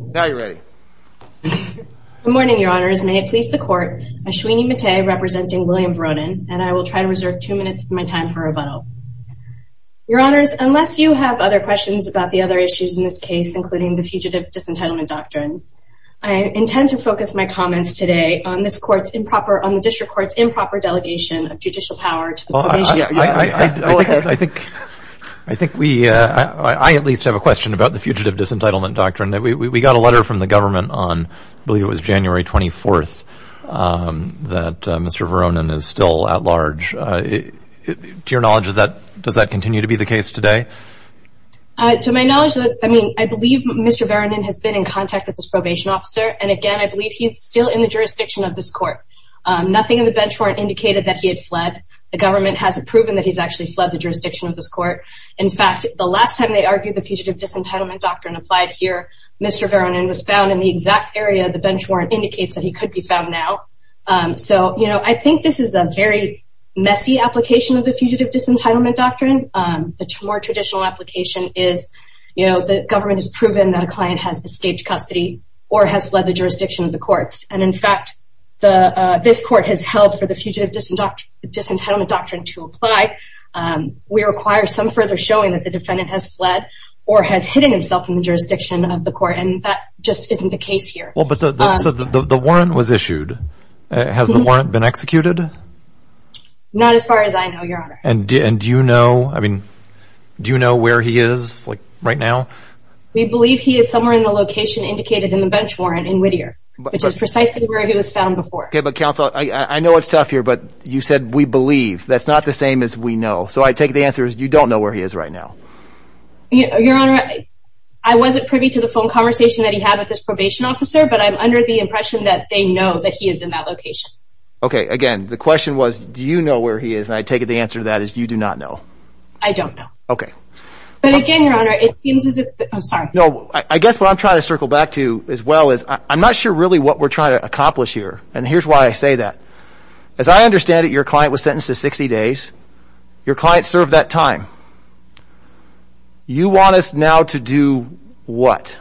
now you're ready good morning your honors may it please the court Ashwini Mate representing William Veronin and I will try to reserve two minutes of my time for rebuttal your honors unless you have other questions about the other issues in this case including the fugitive disentitlement doctrine I intend to focus my comments today on this court's improper on the district court's improper delegation of judicial power to the commission I think I think we uh I at least have a question about the fugitive disentitlement doctrine that we got a letter from the government on I believe it was January 24th that Mr. Veronin is still at large to your knowledge is that does that continue to be the case today to my knowledge I mean I believe Mr. Veronin has been in contact with this probation officer and again I believe he's still in the jurisdiction of this court nothing in the bench warrant indicated that he had fled the government hasn't proven that he's actually fled the jurisdiction of this court in fact the last time they argued the fugitive disentitlement doctrine applied here Mr. Veronin was found in the exact area the bench warrant indicates that he could be found now so you know I think this is a very messy application of the fugitive disentitlement doctrine the more traditional application is you know the government has proven that a client has escaped custody or has fled the jurisdiction of the courts and in fact the uh this court has held for the fugitive disentitlement doctrine to apply we require some further showing that the defendant has fled or has hidden himself in the jurisdiction of the court and that just isn't the case here well but the the warrant was issued has the warrant been executed not as far as I know your honor and do you know I mean do you know where he is like right now we believe he is somewhere in the location indicated in the bench warrant in Whittier which is precisely where he was found before okay but counsel I I know it's tough here but you said we believe that's not the same as we know so I take the answer is you don't know where he is right now your honor I wasn't privy to the phone conversation that he had with his probation officer but I'm under the impression that they know that he is in that location okay again the question was do you know where he is and I take the answer to that is you do not know I don't know okay but again your honor it seems as if I'm sorry no I guess what I'm trying to circle back to as well as I'm not sure really what we're trying to accomplish here and here's why I say that as I understand it your client was sentenced to 60 days your client served that time you want us now to do what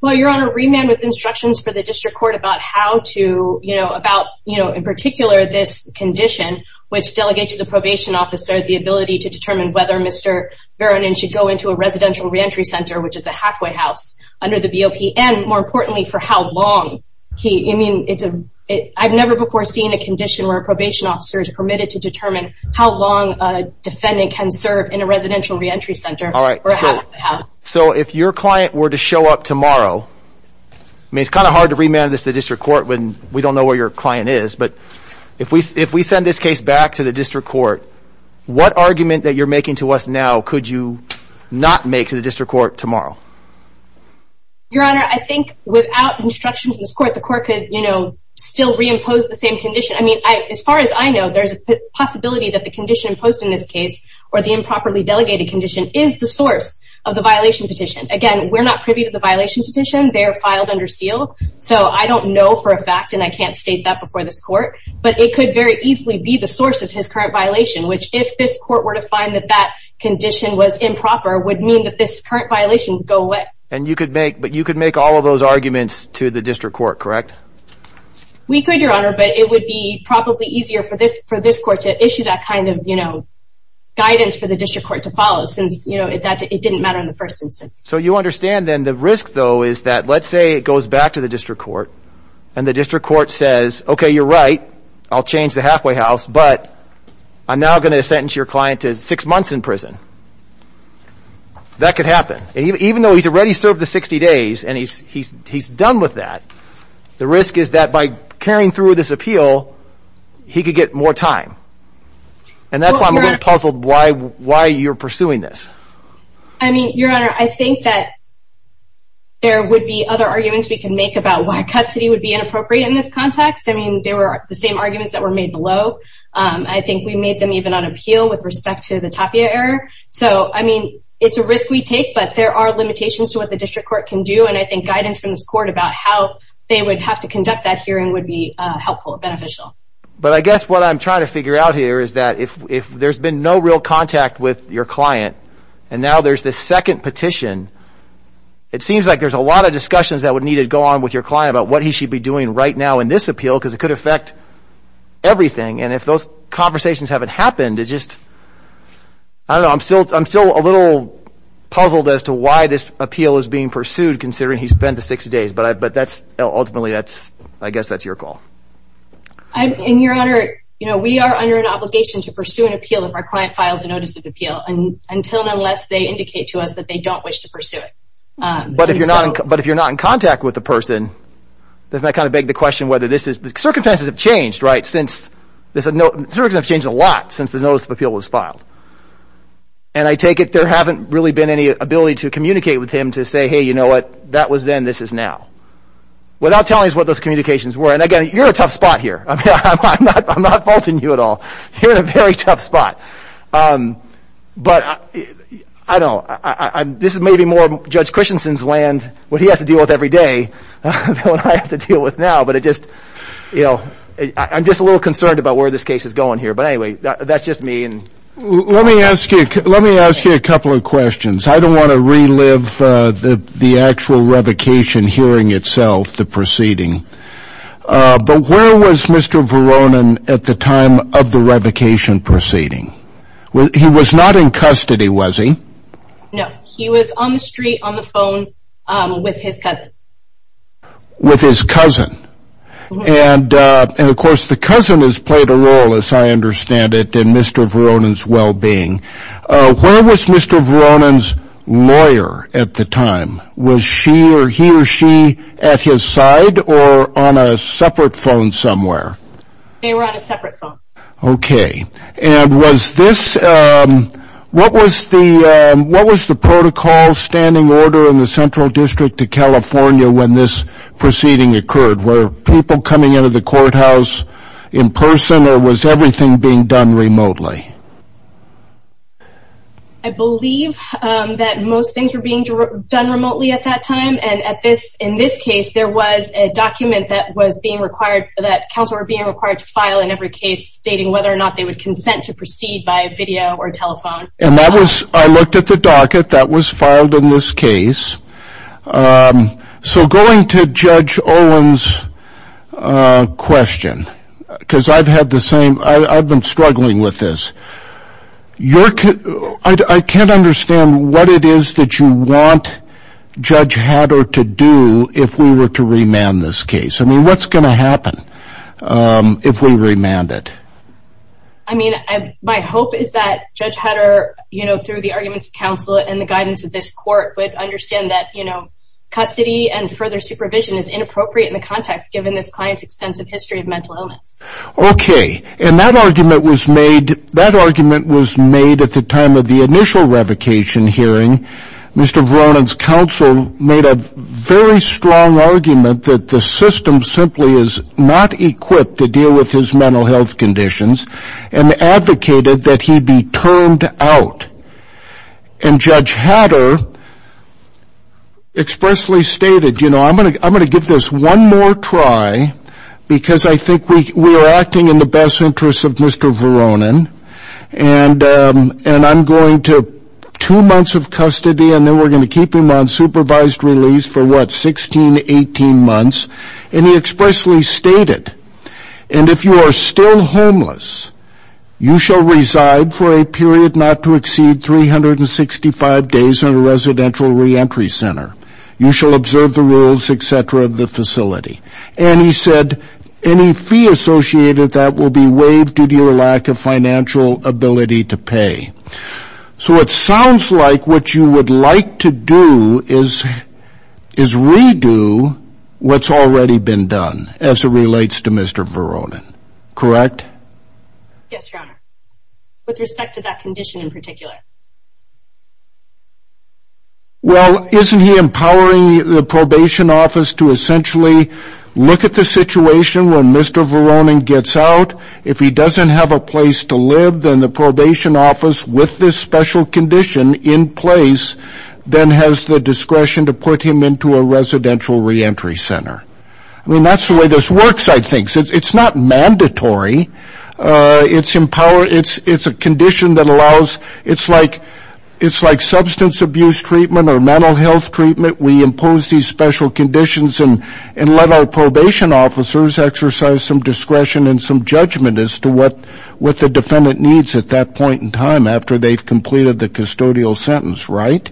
well your honor remand with instructions for the district court about how to you know about you know in particular this condition which delegates the probation officer the ability to determine whether Mr. Veronin should go into a residential re-entry center which is a halfway house under the BOP and more importantly for how long he I mean it's a I've never before seen a condition where a probation officer is permitted to determine how long a in a residential re-entry center all right so if your client were to show up tomorrow I mean it's kind of hard to remand this to the district court when we don't know where your client is but if we if we send this case back to the district court what argument that you're making to us now could you not make to the district court tomorrow your honor I think without instruction from this court the court could you know still reimpose the same condition I mean I as far as I know there's a possibility that the condition imposed in this case or the improperly delegated condition is the source of the violation petition again we're not privy to the violation petition they are filed under seal so I don't know for a fact and I can't state that before this court but it could very easily be the source of his current violation which if this court were to find that that condition was improper would mean that this current violation would go away and you could make but you could make all of those arguments to the district court correct we could your honor but it would be probably easier for this for this court to issue that kind of you know guidance for the district court to follow since you know it didn't matter in the first instance so you understand then the risk though is that let's say it goes back to the district court and the district court says okay you're right I'll change the halfway house but I'm now going to sentence your client to six months in prison that could happen even though he's already served the 60 days and he's he's he's done with that the risk is that by carrying through this appeal he could get more time and that's why I'm a little puzzled why why you're pursuing this I mean your honor I think that there would be other arguments we can make about why custody would be inappropriate in this context I mean they were the same arguments that were made below I think we made them even on appeal with respect to the tapia error so I mean it's a risk we take but there are limitations to what district court can do and I think guidance from this court about how they would have to conduct that hearing would be helpful beneficial but I guess what I'm trying to figure out here is that if if there's been no real contact with your client and now there's this second petition it seems like there's a lot of discussions that would need to go on with your client about what he should be doing right now in this appeal because it could affect everything and if those conversations haven't happened it just I don't know I'm still I'm still a little puzzled as to why this appeal is being pursued considering he spent the six days but I but that's ultimately that's I guess that's your call I'm in your honor you know we are under an obligation to pursue an appeal if our client files a notice of appeal and until and unless they indicate to us that they don't wish to pursue it but if you're not but if you're not in contact with the person doesn't that kind of beg the question whether this is the circumstances have changed right since there's a note there's a change a lot since the notice of appeal was filed and I take it there haven't really been any ability to communicate with him to say hey you know what that was then this is now without telling us what those communications were and again you're in a tough spot here I'm not I'm not faulting you at all you're in a very tough spot but I don't I I'm this is maybe more Judge Christensen's land what he has to deal with every day than what I have to deal with now but it just you know I'm just a little concerned about where this case is going here but anyway that's just me and let me ask you let me ask you a couple of questions I don't want to relive uh the the actual revocation hearing itself the proceeding uh but where was Mr. Veronin at the time of the revocation proceeding he was not in custody was he no he was on the street on the phone um with his cousin with his cousin and uh and of course the cousin has played a role as I understand it in Mr. Veronin's well-being uh where was Mr. Veronin's lawyer at the time was she or he or she at his side or on a separate phone somewhere they were on a separate phone okay and was this um what was the um what was the protocol standing order in the central district to California when this proceeding occurred were people coming into the courthouse in person or was everything being done remotely I believe um that most things were being done remotely at that time and at this in this case there was a document that was being required that council were being required to stating whether or not they would consent to proceed by video or telephone and that was I looked at the docket that was filed in this case um so going to Judge Olin's uh question because I've had the same I've been struggling with this your I can't understand what it is that you want Judge Hatter to do if we were to remand this case I mean what's going to happen um if we remand it I mean I my hope is that Judge Hatter you know through the arguments of counsel and the guidance of this court would understand that you know custody and further supervision is inappropriate in the context given this client's extensive history of mental illness okay and that argument was made that argument was made at the time of the initial revocation hearing Mr. Veronin's counsel made a very strong argument that the system simply is not equipped to deal with his mental health conditions and advocated that he be turned out and Judge Hatter expressly stated you know I'm going to I'm going to give this one more try because I think we we are acting in the best interest of Mr. Veronin and um and I'm going to two months of custody and then we're going to keep him on supervised release for what 16-18 if you are still homeless you shall reside for a period not to exceed 365 days in a residential re-entry center you shall observe the rules etc of the facility and he said any fee associated that will be waived due to your lack of financial ability to pay so it sounds like what you would like to do is is redo what's already been done as it relates to Mr. Veronin correct yes your honor with respect to that condition in particular well isn't he empowering the probation office to essentially look at the situation when Mr. Veronin gets out if he doesn't have a place to live then the probation office with this condition in place then has the discretion to put him into a residential re-entry center I mean that's the way this works I think it's it's not mandatory uh it's empowered it's it's a condition that allows it's like it's like substance abuse treatment or mental health treatment we impose these special conditions and and let our probation officers exercise some discretion and some judgment as to what what the defendant needs at that point in time after they've completed the custodial sentence right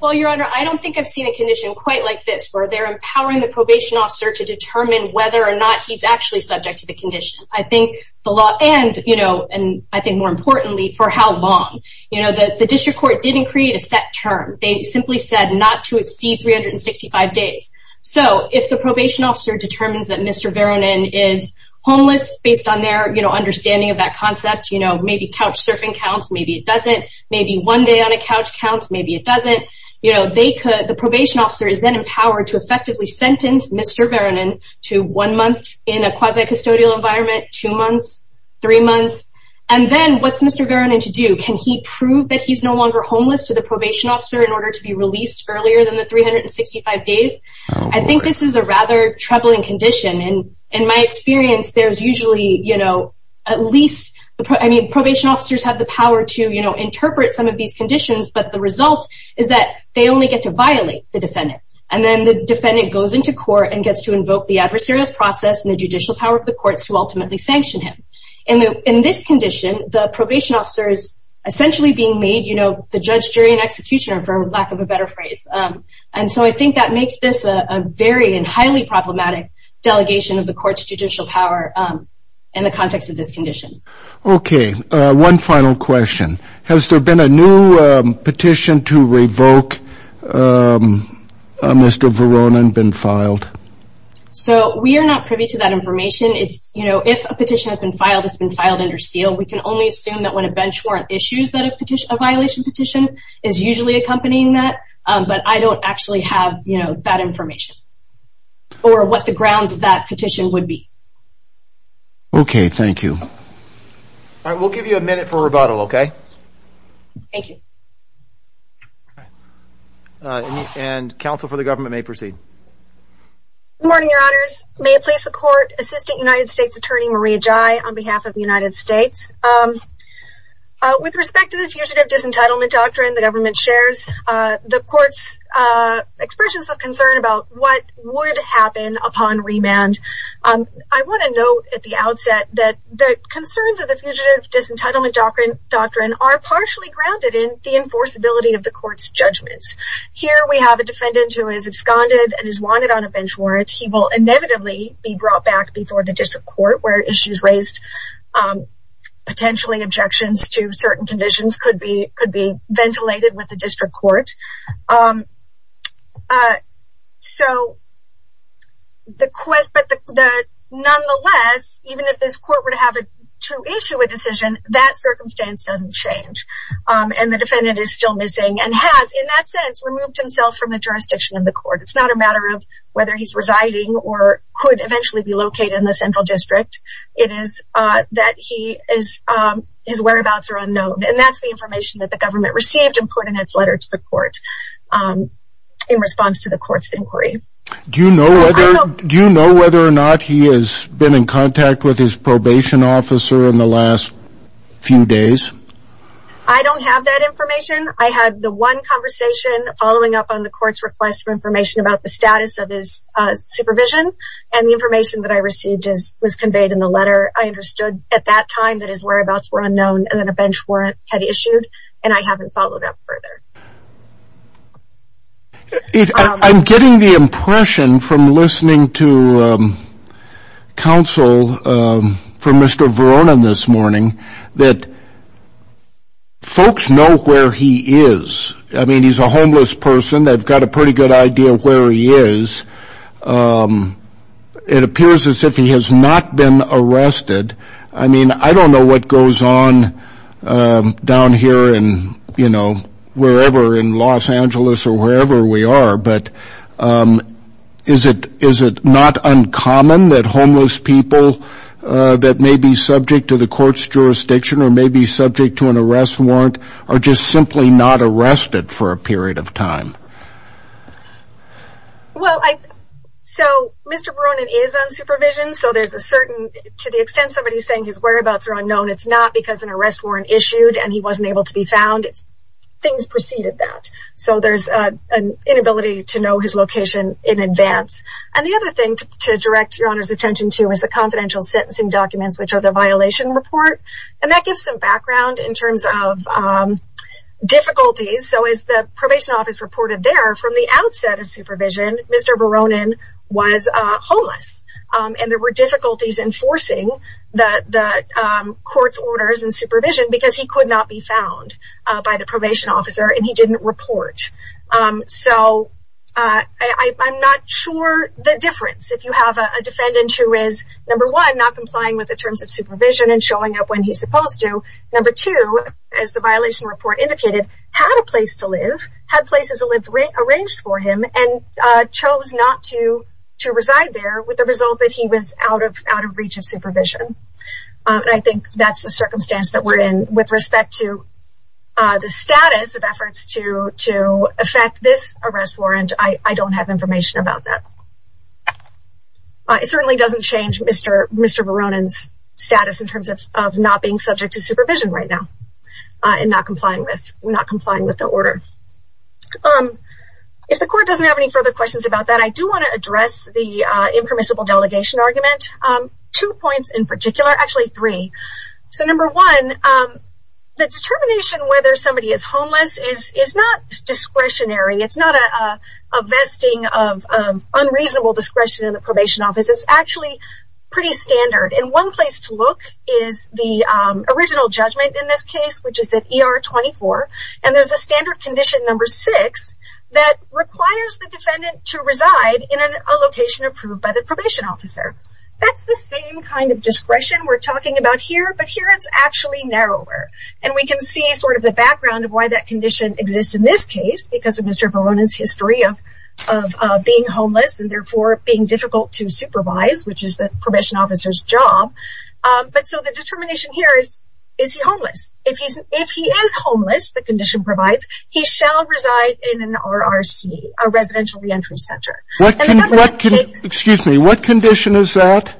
well your honor I don't think I've seen a condition quite like this where they're empowering the probation officer to determine whether or not he's actually subject to the condition I think the law and you know and I think more importantly for how long you know that the district court didn't create a set term they simply said not to exceed 365 days so if the probation officer determines that Mr. Veronin is homeless based on their you know understanding of that concept you know maybe couch surfing counts maybe it doesn't maybe one day on a couch counts maybe it doesn't you know they could the probation officer is then empowered to effectively sentence Mr. Veronin to one month in a quasi-custodial environment two months three months and then what's Mr. Veronin to do can he prove that he's no longer homeless to the probation officer in order to be released earlier than the 365 days I think this is a rather troubling condition and in my experience there's usually you know at least I mean probation officers have the power to you know interpret some of these conditions but the result is that they only get to violate the defendant and then the defendant goes into court and gets to invoke the adversarial process and the judicial power of the courts who ultimately sanction him in the in this condition the probation officer is essentially being made you know the judge jury and executioner for lack of a better phrase and so I think that makes this a very and highly problematic delegation of the court's judicial power in the context of this condition okay one final question has there been a new petition to revoke Mr. Veronin been filed so we are not privy to that information it's you know if a petition has been filed it's been filed under seal we can only assume that when a bench issues that a petition a violation petition is usually accompanying that but I don't actually have you know that information or what the grounds of that petition would be okay thank you all right we'll give you a minute for rebuttal okay thank you and counsel for the government may proceed good morning your honors may it please the court assistant united states attorney maria jai on with respect to the fugitive disentitlement doctrine the government shares uh the court's uh expressions of concern about what would happen upon remand um I want to note at the outset that the concerns of the fugitive disentitlement doctrine doctrine are partially grounded in the enforceability of the court's judgments here we have a defendant who is absconded and is wanted on a bench warrants he will inevitably be brought back before the district court where issues raised um potentially objections to certain conditions could be could be ventilated with the district court um uh so the quest but the the nonetheless even if this court were to have a to issue a decision that circumstance doesn't change um and the defendant is still missing and has in that sense removed himself from the jurisdiction of the court it's not a matter of whether he's residing or could eventually be located in the central district it is uh that he is um his whereabouts are unknown and that's the information that the government received and put in its letter to the court um in response to the court's inquiry do you know whether do you know whether or not he has been in contact with his probation officer in the last few days i don't have that information i had the one conversation following up on the court's request for information about the status of his uh supervision and the information that i received is was conveyed in the letter i understood at that time that his whereabouts were unknown and then a bench warrant had issued and i haven't followed up further i'm getting the impression from listening to um counsel um from mr verona this morning that um it appears as if he has not been arrested i mean i don't know what goes on um down here and you know wherever in los angeles or wherever we are but um is it is it not uncommon that homeless people uh that may be subject to the court's jurisdiction or may be subject to an arrest warrant are just simply not arrested for a period of time well i so mr verona is on supervision so there's a certain to the extent somebody's saying his whereabouts are unknown it's not because an arrest warrant issued and he wasn't able to be found things preceded that so there's a an inability to know his location in advance and the other thing to direct your honor's attention to is the confidential sentencing documents which are the violation report and that gives some background in terms of um difficulties so is the probation office reported there from the outset of supervision mr veronin was uh homeless um and there were difficulties enforcing the the um court's orders and supervision because he could not be found uh by the probation officer and he didn't report um so uh i i'm not sure the difference if you have a defendant who is number one not complying with the terms of supervision and showing up when he's supposed to number two as the violation report indicated had a place to live had places to live arranged for him and uh chose not to to reside there with the result that he was out of out of reach of supervision and i think that's the circumstance that we're in with respect to uh the status of efforts to to affect this arrest warrant i i don't have information about that it certainly doesn't change mr mr veronin's status in terms of of not being subject to um if the court doesn't have any further questions about that i do want to address the uh impermissible delegation argument um two points in particular actually three so number one um the determination whether somebody is homeless is is not discretionary it's not a a vesting of unreasonable discretion in the probation office it's actually pretty standard and one place to look is the um original judgment in this case which is at er 24 and there's a standard condition number six that requires the defendant to reside in a location approved by the probation officer that's the same kind of discretion we're talking about here but here it's actually narrower and we can see sort of the background of why that condition exists in this case because of mr veronin's history of of being homeless and therefore being difficult to supervise which is the probation officer's job um but so the determination here is is he homeless if he's if he is homeless the condition provides he shall reside in an rrc a residential re-entry center excuse me what condition is that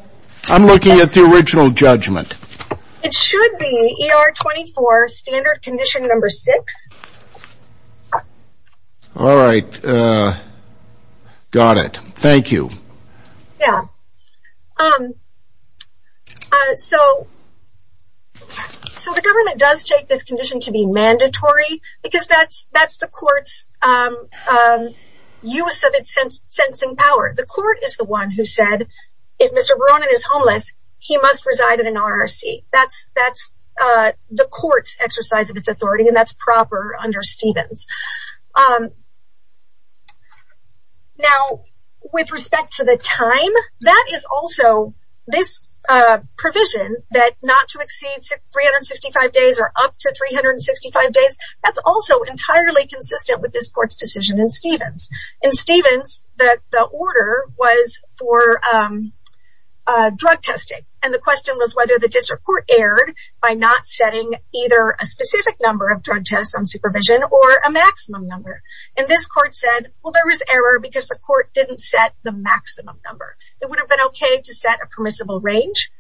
i'm looking at the original judgment it should be er 24 standard condition number six all right uh got it thank you yeah um uh so so the government does take this condition to be mandatory because that's that's the court's um um use of its sense sensing power the court is the one who said if mr veronin is homeless he must reside in an rrc that's that's uh the court's exercise of its authority and that's proper under stevens um now with respect to the time that is also this uh provision that not to exceed 365 days or up to 365 days that's also entirely consistent with this court's decision in stevens in stevens that the order was for um uh drug testing and the question was whether the district court erred by not setting either a specific number of drug tests on supervision or a maximum number and this court said well there was error because the court didn't set the maximum number it would have been okay to set a permissible range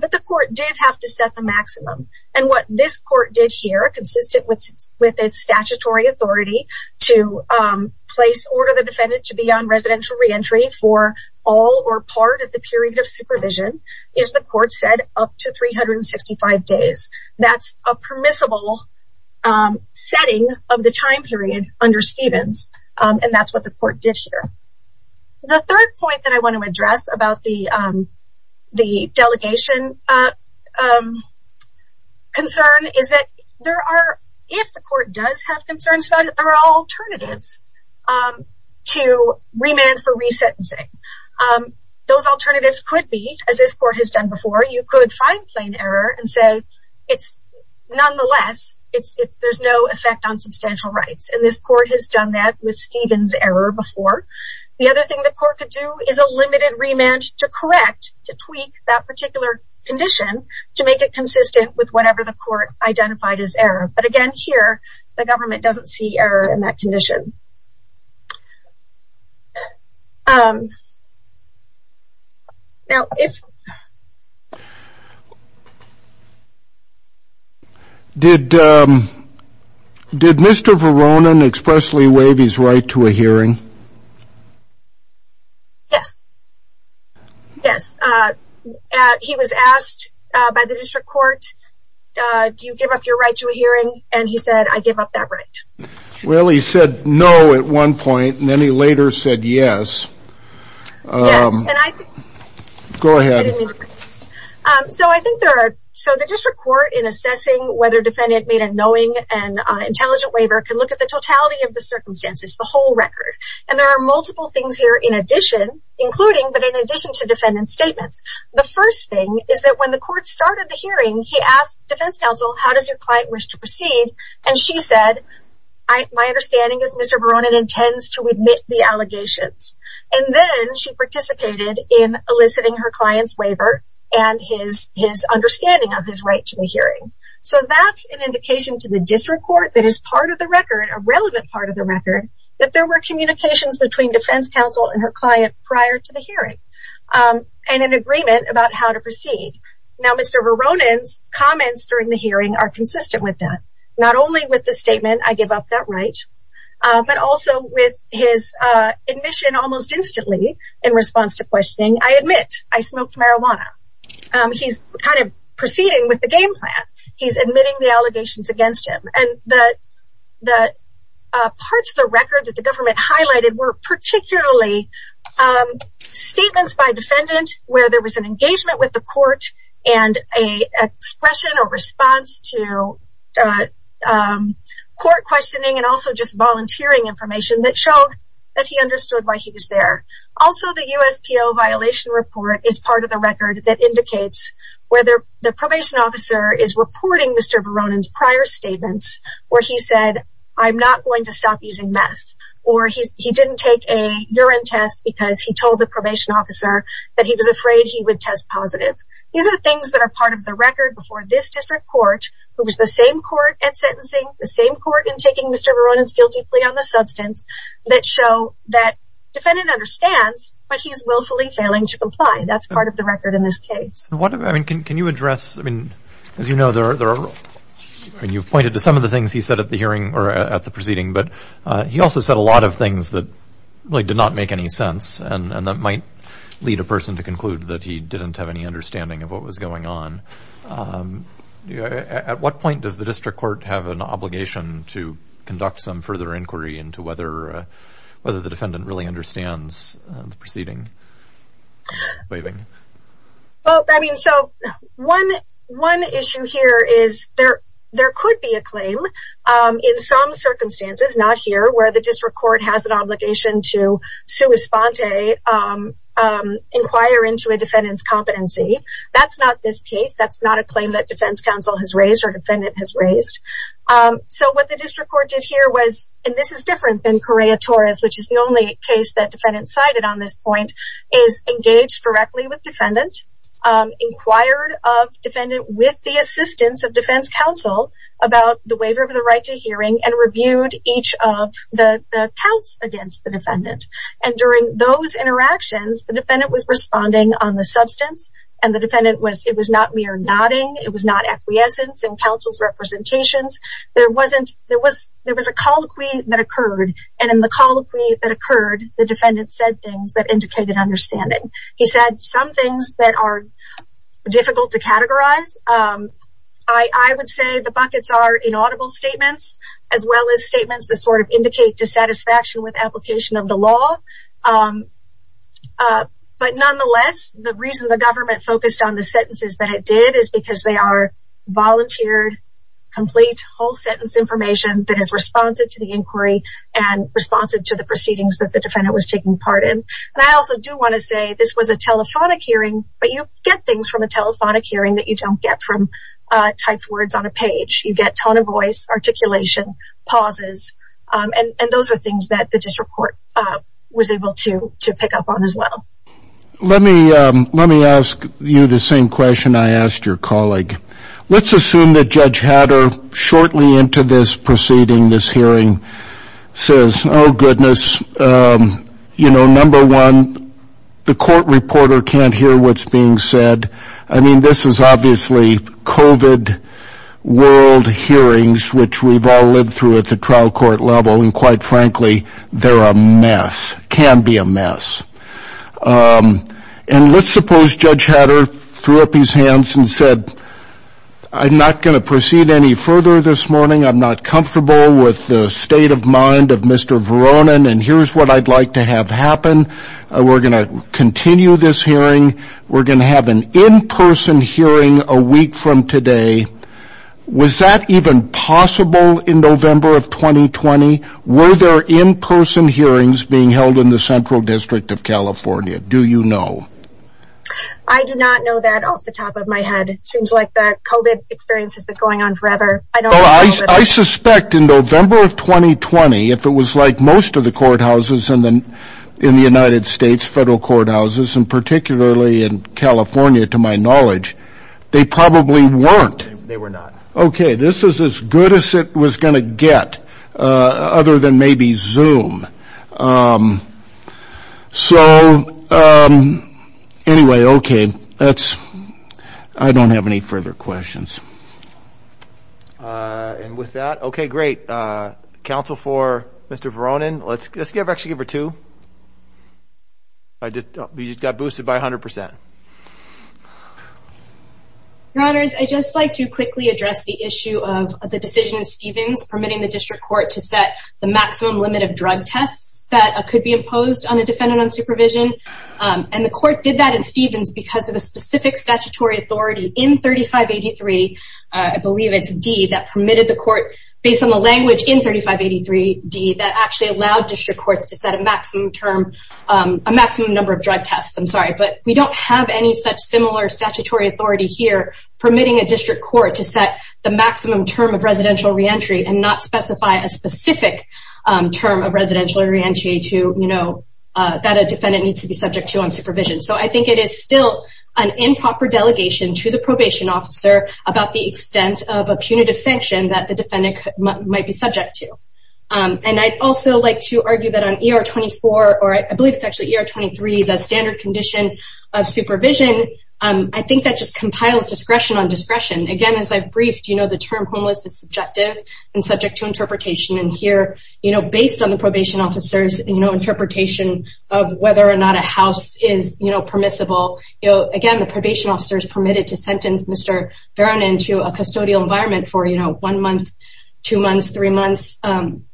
but the court did have to set the maximum and what this court did here consistent with with its statutory authority to um place order the defendant to be on residential re-entry for all or part of the period of supervision is the court said up to 365 days that's a permissible um setting of the time period under stevens um and that's what the court did here the third point that i want to address about the um the delegation uh um concern is that there are if the court does have concerns about it there are alternatives um to remand for resentencing um those alternatives could be as this court has done before you could find plain error and say it's nonetheless it's it's there's no effect on substantial rights and this court has done that with stevens error before the other thing the court could do is a limited remand to correct to tweak that particular condition to make it consistent with whatever the court identified as error but again here the government doesn't see error in that condition um now if did um did mr veronin expressly waive his right to a hearing yes yes uh he was asked uh by the district court uh do you give up your right to a hearing and he said i give up that right well he said no at one point and then he later said yes um go ahead um so i think there are so the district court in assessing whether defendant made a knowing and intelligent waiver can look at the totality of the circumstances the whole record and there are multiple things here in addition including but in addition to defendant statements the first thing is that when the court started the hearing he asked defense counsel how does client wish to proceed and she said i my understanding is mr veronin intends to admit the allegations and then she participated in eliciting her client's waiver and his his understanding of his right to the hearing so that's an indication to the district court that is part of the record a relevant part of the record that there were communications between defense counsel and her client prior to the hearing um and an agreement about how to proceed now mr veronin's comments during the hearing are consistent with that not only with the statement i give up that right uh but also with his uh admission almost instantly in response to questioning i admit i smoked marijuana um he's kind of proceeding with the game plan he's admitting the allegations against him and the the parts of the record that the government highlighted were and a expression or response to uh um court questioning and also just volunteering information that showed that he understood why he was there also the uspo violation report is part of the record that indicates whether the probation officer is reporting mr veronin's prior statements where he said i'm not going to stop using meth or he he didn't take a urine test because he record before this district court who was the same court at sentencing the same court in taking mr veronin's guilty plea on the substance that show that defendant understands but he's willfully failing to comply that's part of the record in this case what i mean can you address i mean as you know there are there are i mean you've pointed to some of the things he said at the hearing or at the proceeding but uh he also said a lot of things that really did not make any sense and that might lead a person to conclude that he didn't have any understanding of what was going on at what point does the district court have an obligation to conduct some further inquiry into whether whether the defendant really understands the proceeding waving well i mean so one one issue here is there there could be a claim um in some circumstances not here where the district court has an obligation to sue esponte um inquire into a defendant's competency that's not this case that's not a claim that defense counsel has raised or defendant has raised um so what the district court did here was and this is different than correa torres which is the only case that defendant cited on this point is engaged directly with defendant um inquired of defendant with the assistance of defense counsel about the waiver of the right to hearing and reviewed each of the the counts against the defendant and during those interactions the defendant was responding on the substance and the defendant was it was not mere nodding it was not acquiescence and counsel's representations there wasn't there was there was a colloquy that occurred and in the colloquy that occurred the defendant said things that indicated understanding he said some things that are difficult to categorize um i i would say the buckets are inaudible statements as well as dissatisfaction with application of the law um uh but nonetheless the reason the government focused on the sentences that it did is because they are volunteered complete whole sentence information that is responsive to the inquiry and responsive to the proceedings that the defendant was taking part in and i also do want to say this was a telephonic hearing but you get things from a telephonic hearing that you don't get from uh typed words on a page you get tone of voice articulation pauses um and and those are things that the district court uh was able to to pick up on as well let me um let me ask you the same question i asked your colleague let's assume that judge hatter shortly into this proceeding this hearing says oh goodness um you know number one the court reporter can't hear what's being said i mean this is obviously covid world hearings which we've all lived through at the trial court level and quite frankly they're a mess can be a mess um and let's suppose judge hatter threw up his hands and said i'm not going to proceed any further this morning i'm not comfortable with the state of mind of mr veronin and here's what i'd like to have happen we're going to continue this hearing we're going to have an in-person hearing a week from today was that even possible in november of 2020 were there in-person hearings being held in the central district of california do you know i do not know that off the top of my head it seems like that coded experience has been going on forever i don't know i suspect in november of 2020 if it was like most of the courthouses and then in the united states federal courthouses and particularly in california to my knowledge they probably weren't they were not okay this is as good as it was going to get uh other than maybe zoom um so um anyway okay that's i don't have any further questions uh and with that okay great uh counsel for mr veronin let's just give actually give her two i just got boosted by 100 your honors i just like to quickly address the issue of the decision stevens permitting the district court to set the maximum limit of drug tests that could be imposed on a defendant on supervision um and the court did that in stevens because of a specific statutory authority in 3583 i believe it's d that permitted the court based on the language in 3583 d that actually allowed district courts to set a maximum term um a maximum number of drug tests i'm sorry but we don't have any such similar statutory authority here permitting a district court to set the maximum term of residential re-entry and not specify a specific um term of residential re-entry to you know uh that a defendant needs to be subject to on supervision so i think it is still an improper delegation to the probation officer about the extent of a punitive sanction that the defendant might be subject to um and i'd also like to argue that on er 24 or i believe it's actually er 23 the standard condition of supervision um i think that just compiles discretion on discretion again as i've briefed you know the term homeless is subjective and subject to interpretation and here you know based on the probation officers you know interpretation of whether or not a house is you know permissible you know again the probation officer is permitted to sentence mr vernon into a custodial environment for you know one month two months three months um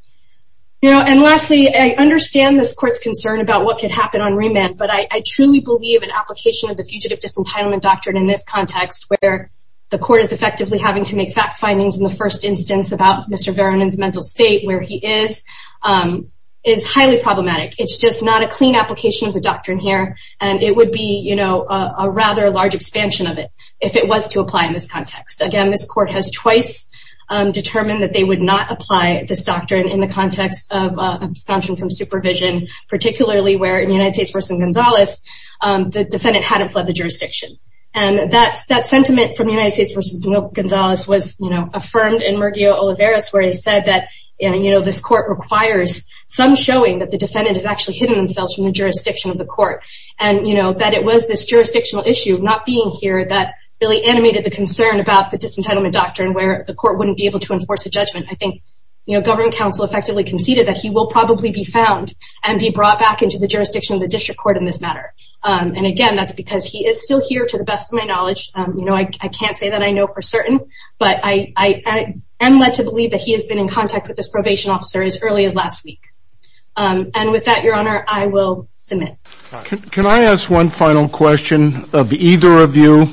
you know and lastly i understand this court's concern about what could happen on remand but i i truly believe an application of the fugitive disentitlement doctrine in this context where the court is effectively having to make fact findings in the first instance about mr vernon's mental state where he is um is highly problematic it's just not a clean application of the doctrine here and it would be you know a rather large expansion of it if it was to apply in this context again this court has twice um determined that they would not apply this doctrine in the context of abstention from supervision particularly where in united states versus gonzalez um the defendant hadn't fled the jurisdiction and that's that sentiment from united states versus gonzalez was you know affirmed in merguez olivares where he some showing that the defendant has actually hidden themselves from the jurisdiction of the court and you know that it was this jurisdictional issue not being here that really animated the concern about the disentitlement doctrine where the court wouldn't be able to enforce a judgment i think you know government council effectively conceded that he will probably be found and be brought back into the jurisdiction of the district court in this matter um and again that's because he is still here to the best of my knowledge um you know i can't say that i know for certain but i i am led to believe that he has been in contact with this probation officer as early as last week um and with that your honor i will submit can i ask one final question of either of you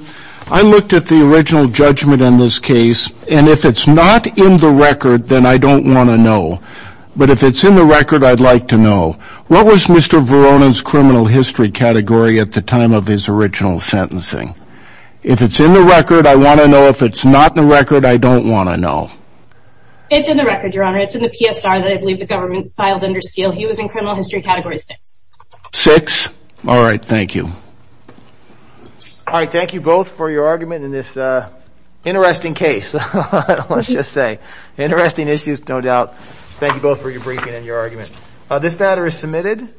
i looked at the original judgment in this case and if it's not in the record then i don't want to know but if it's in the record i'd like to know what was mr veronin's criminal history category the time of his original sentencing if it's in the record i want to know if it's not the record i don't want to know it's in the record your honor it's in the psr that i believe the government filed under steel he was in criminal history category six six all right thank you all right thank you both for your argument in this uh interesting case let's just say interesting issues no doubt thank you both for your briefing and your argument uh this matter is submitted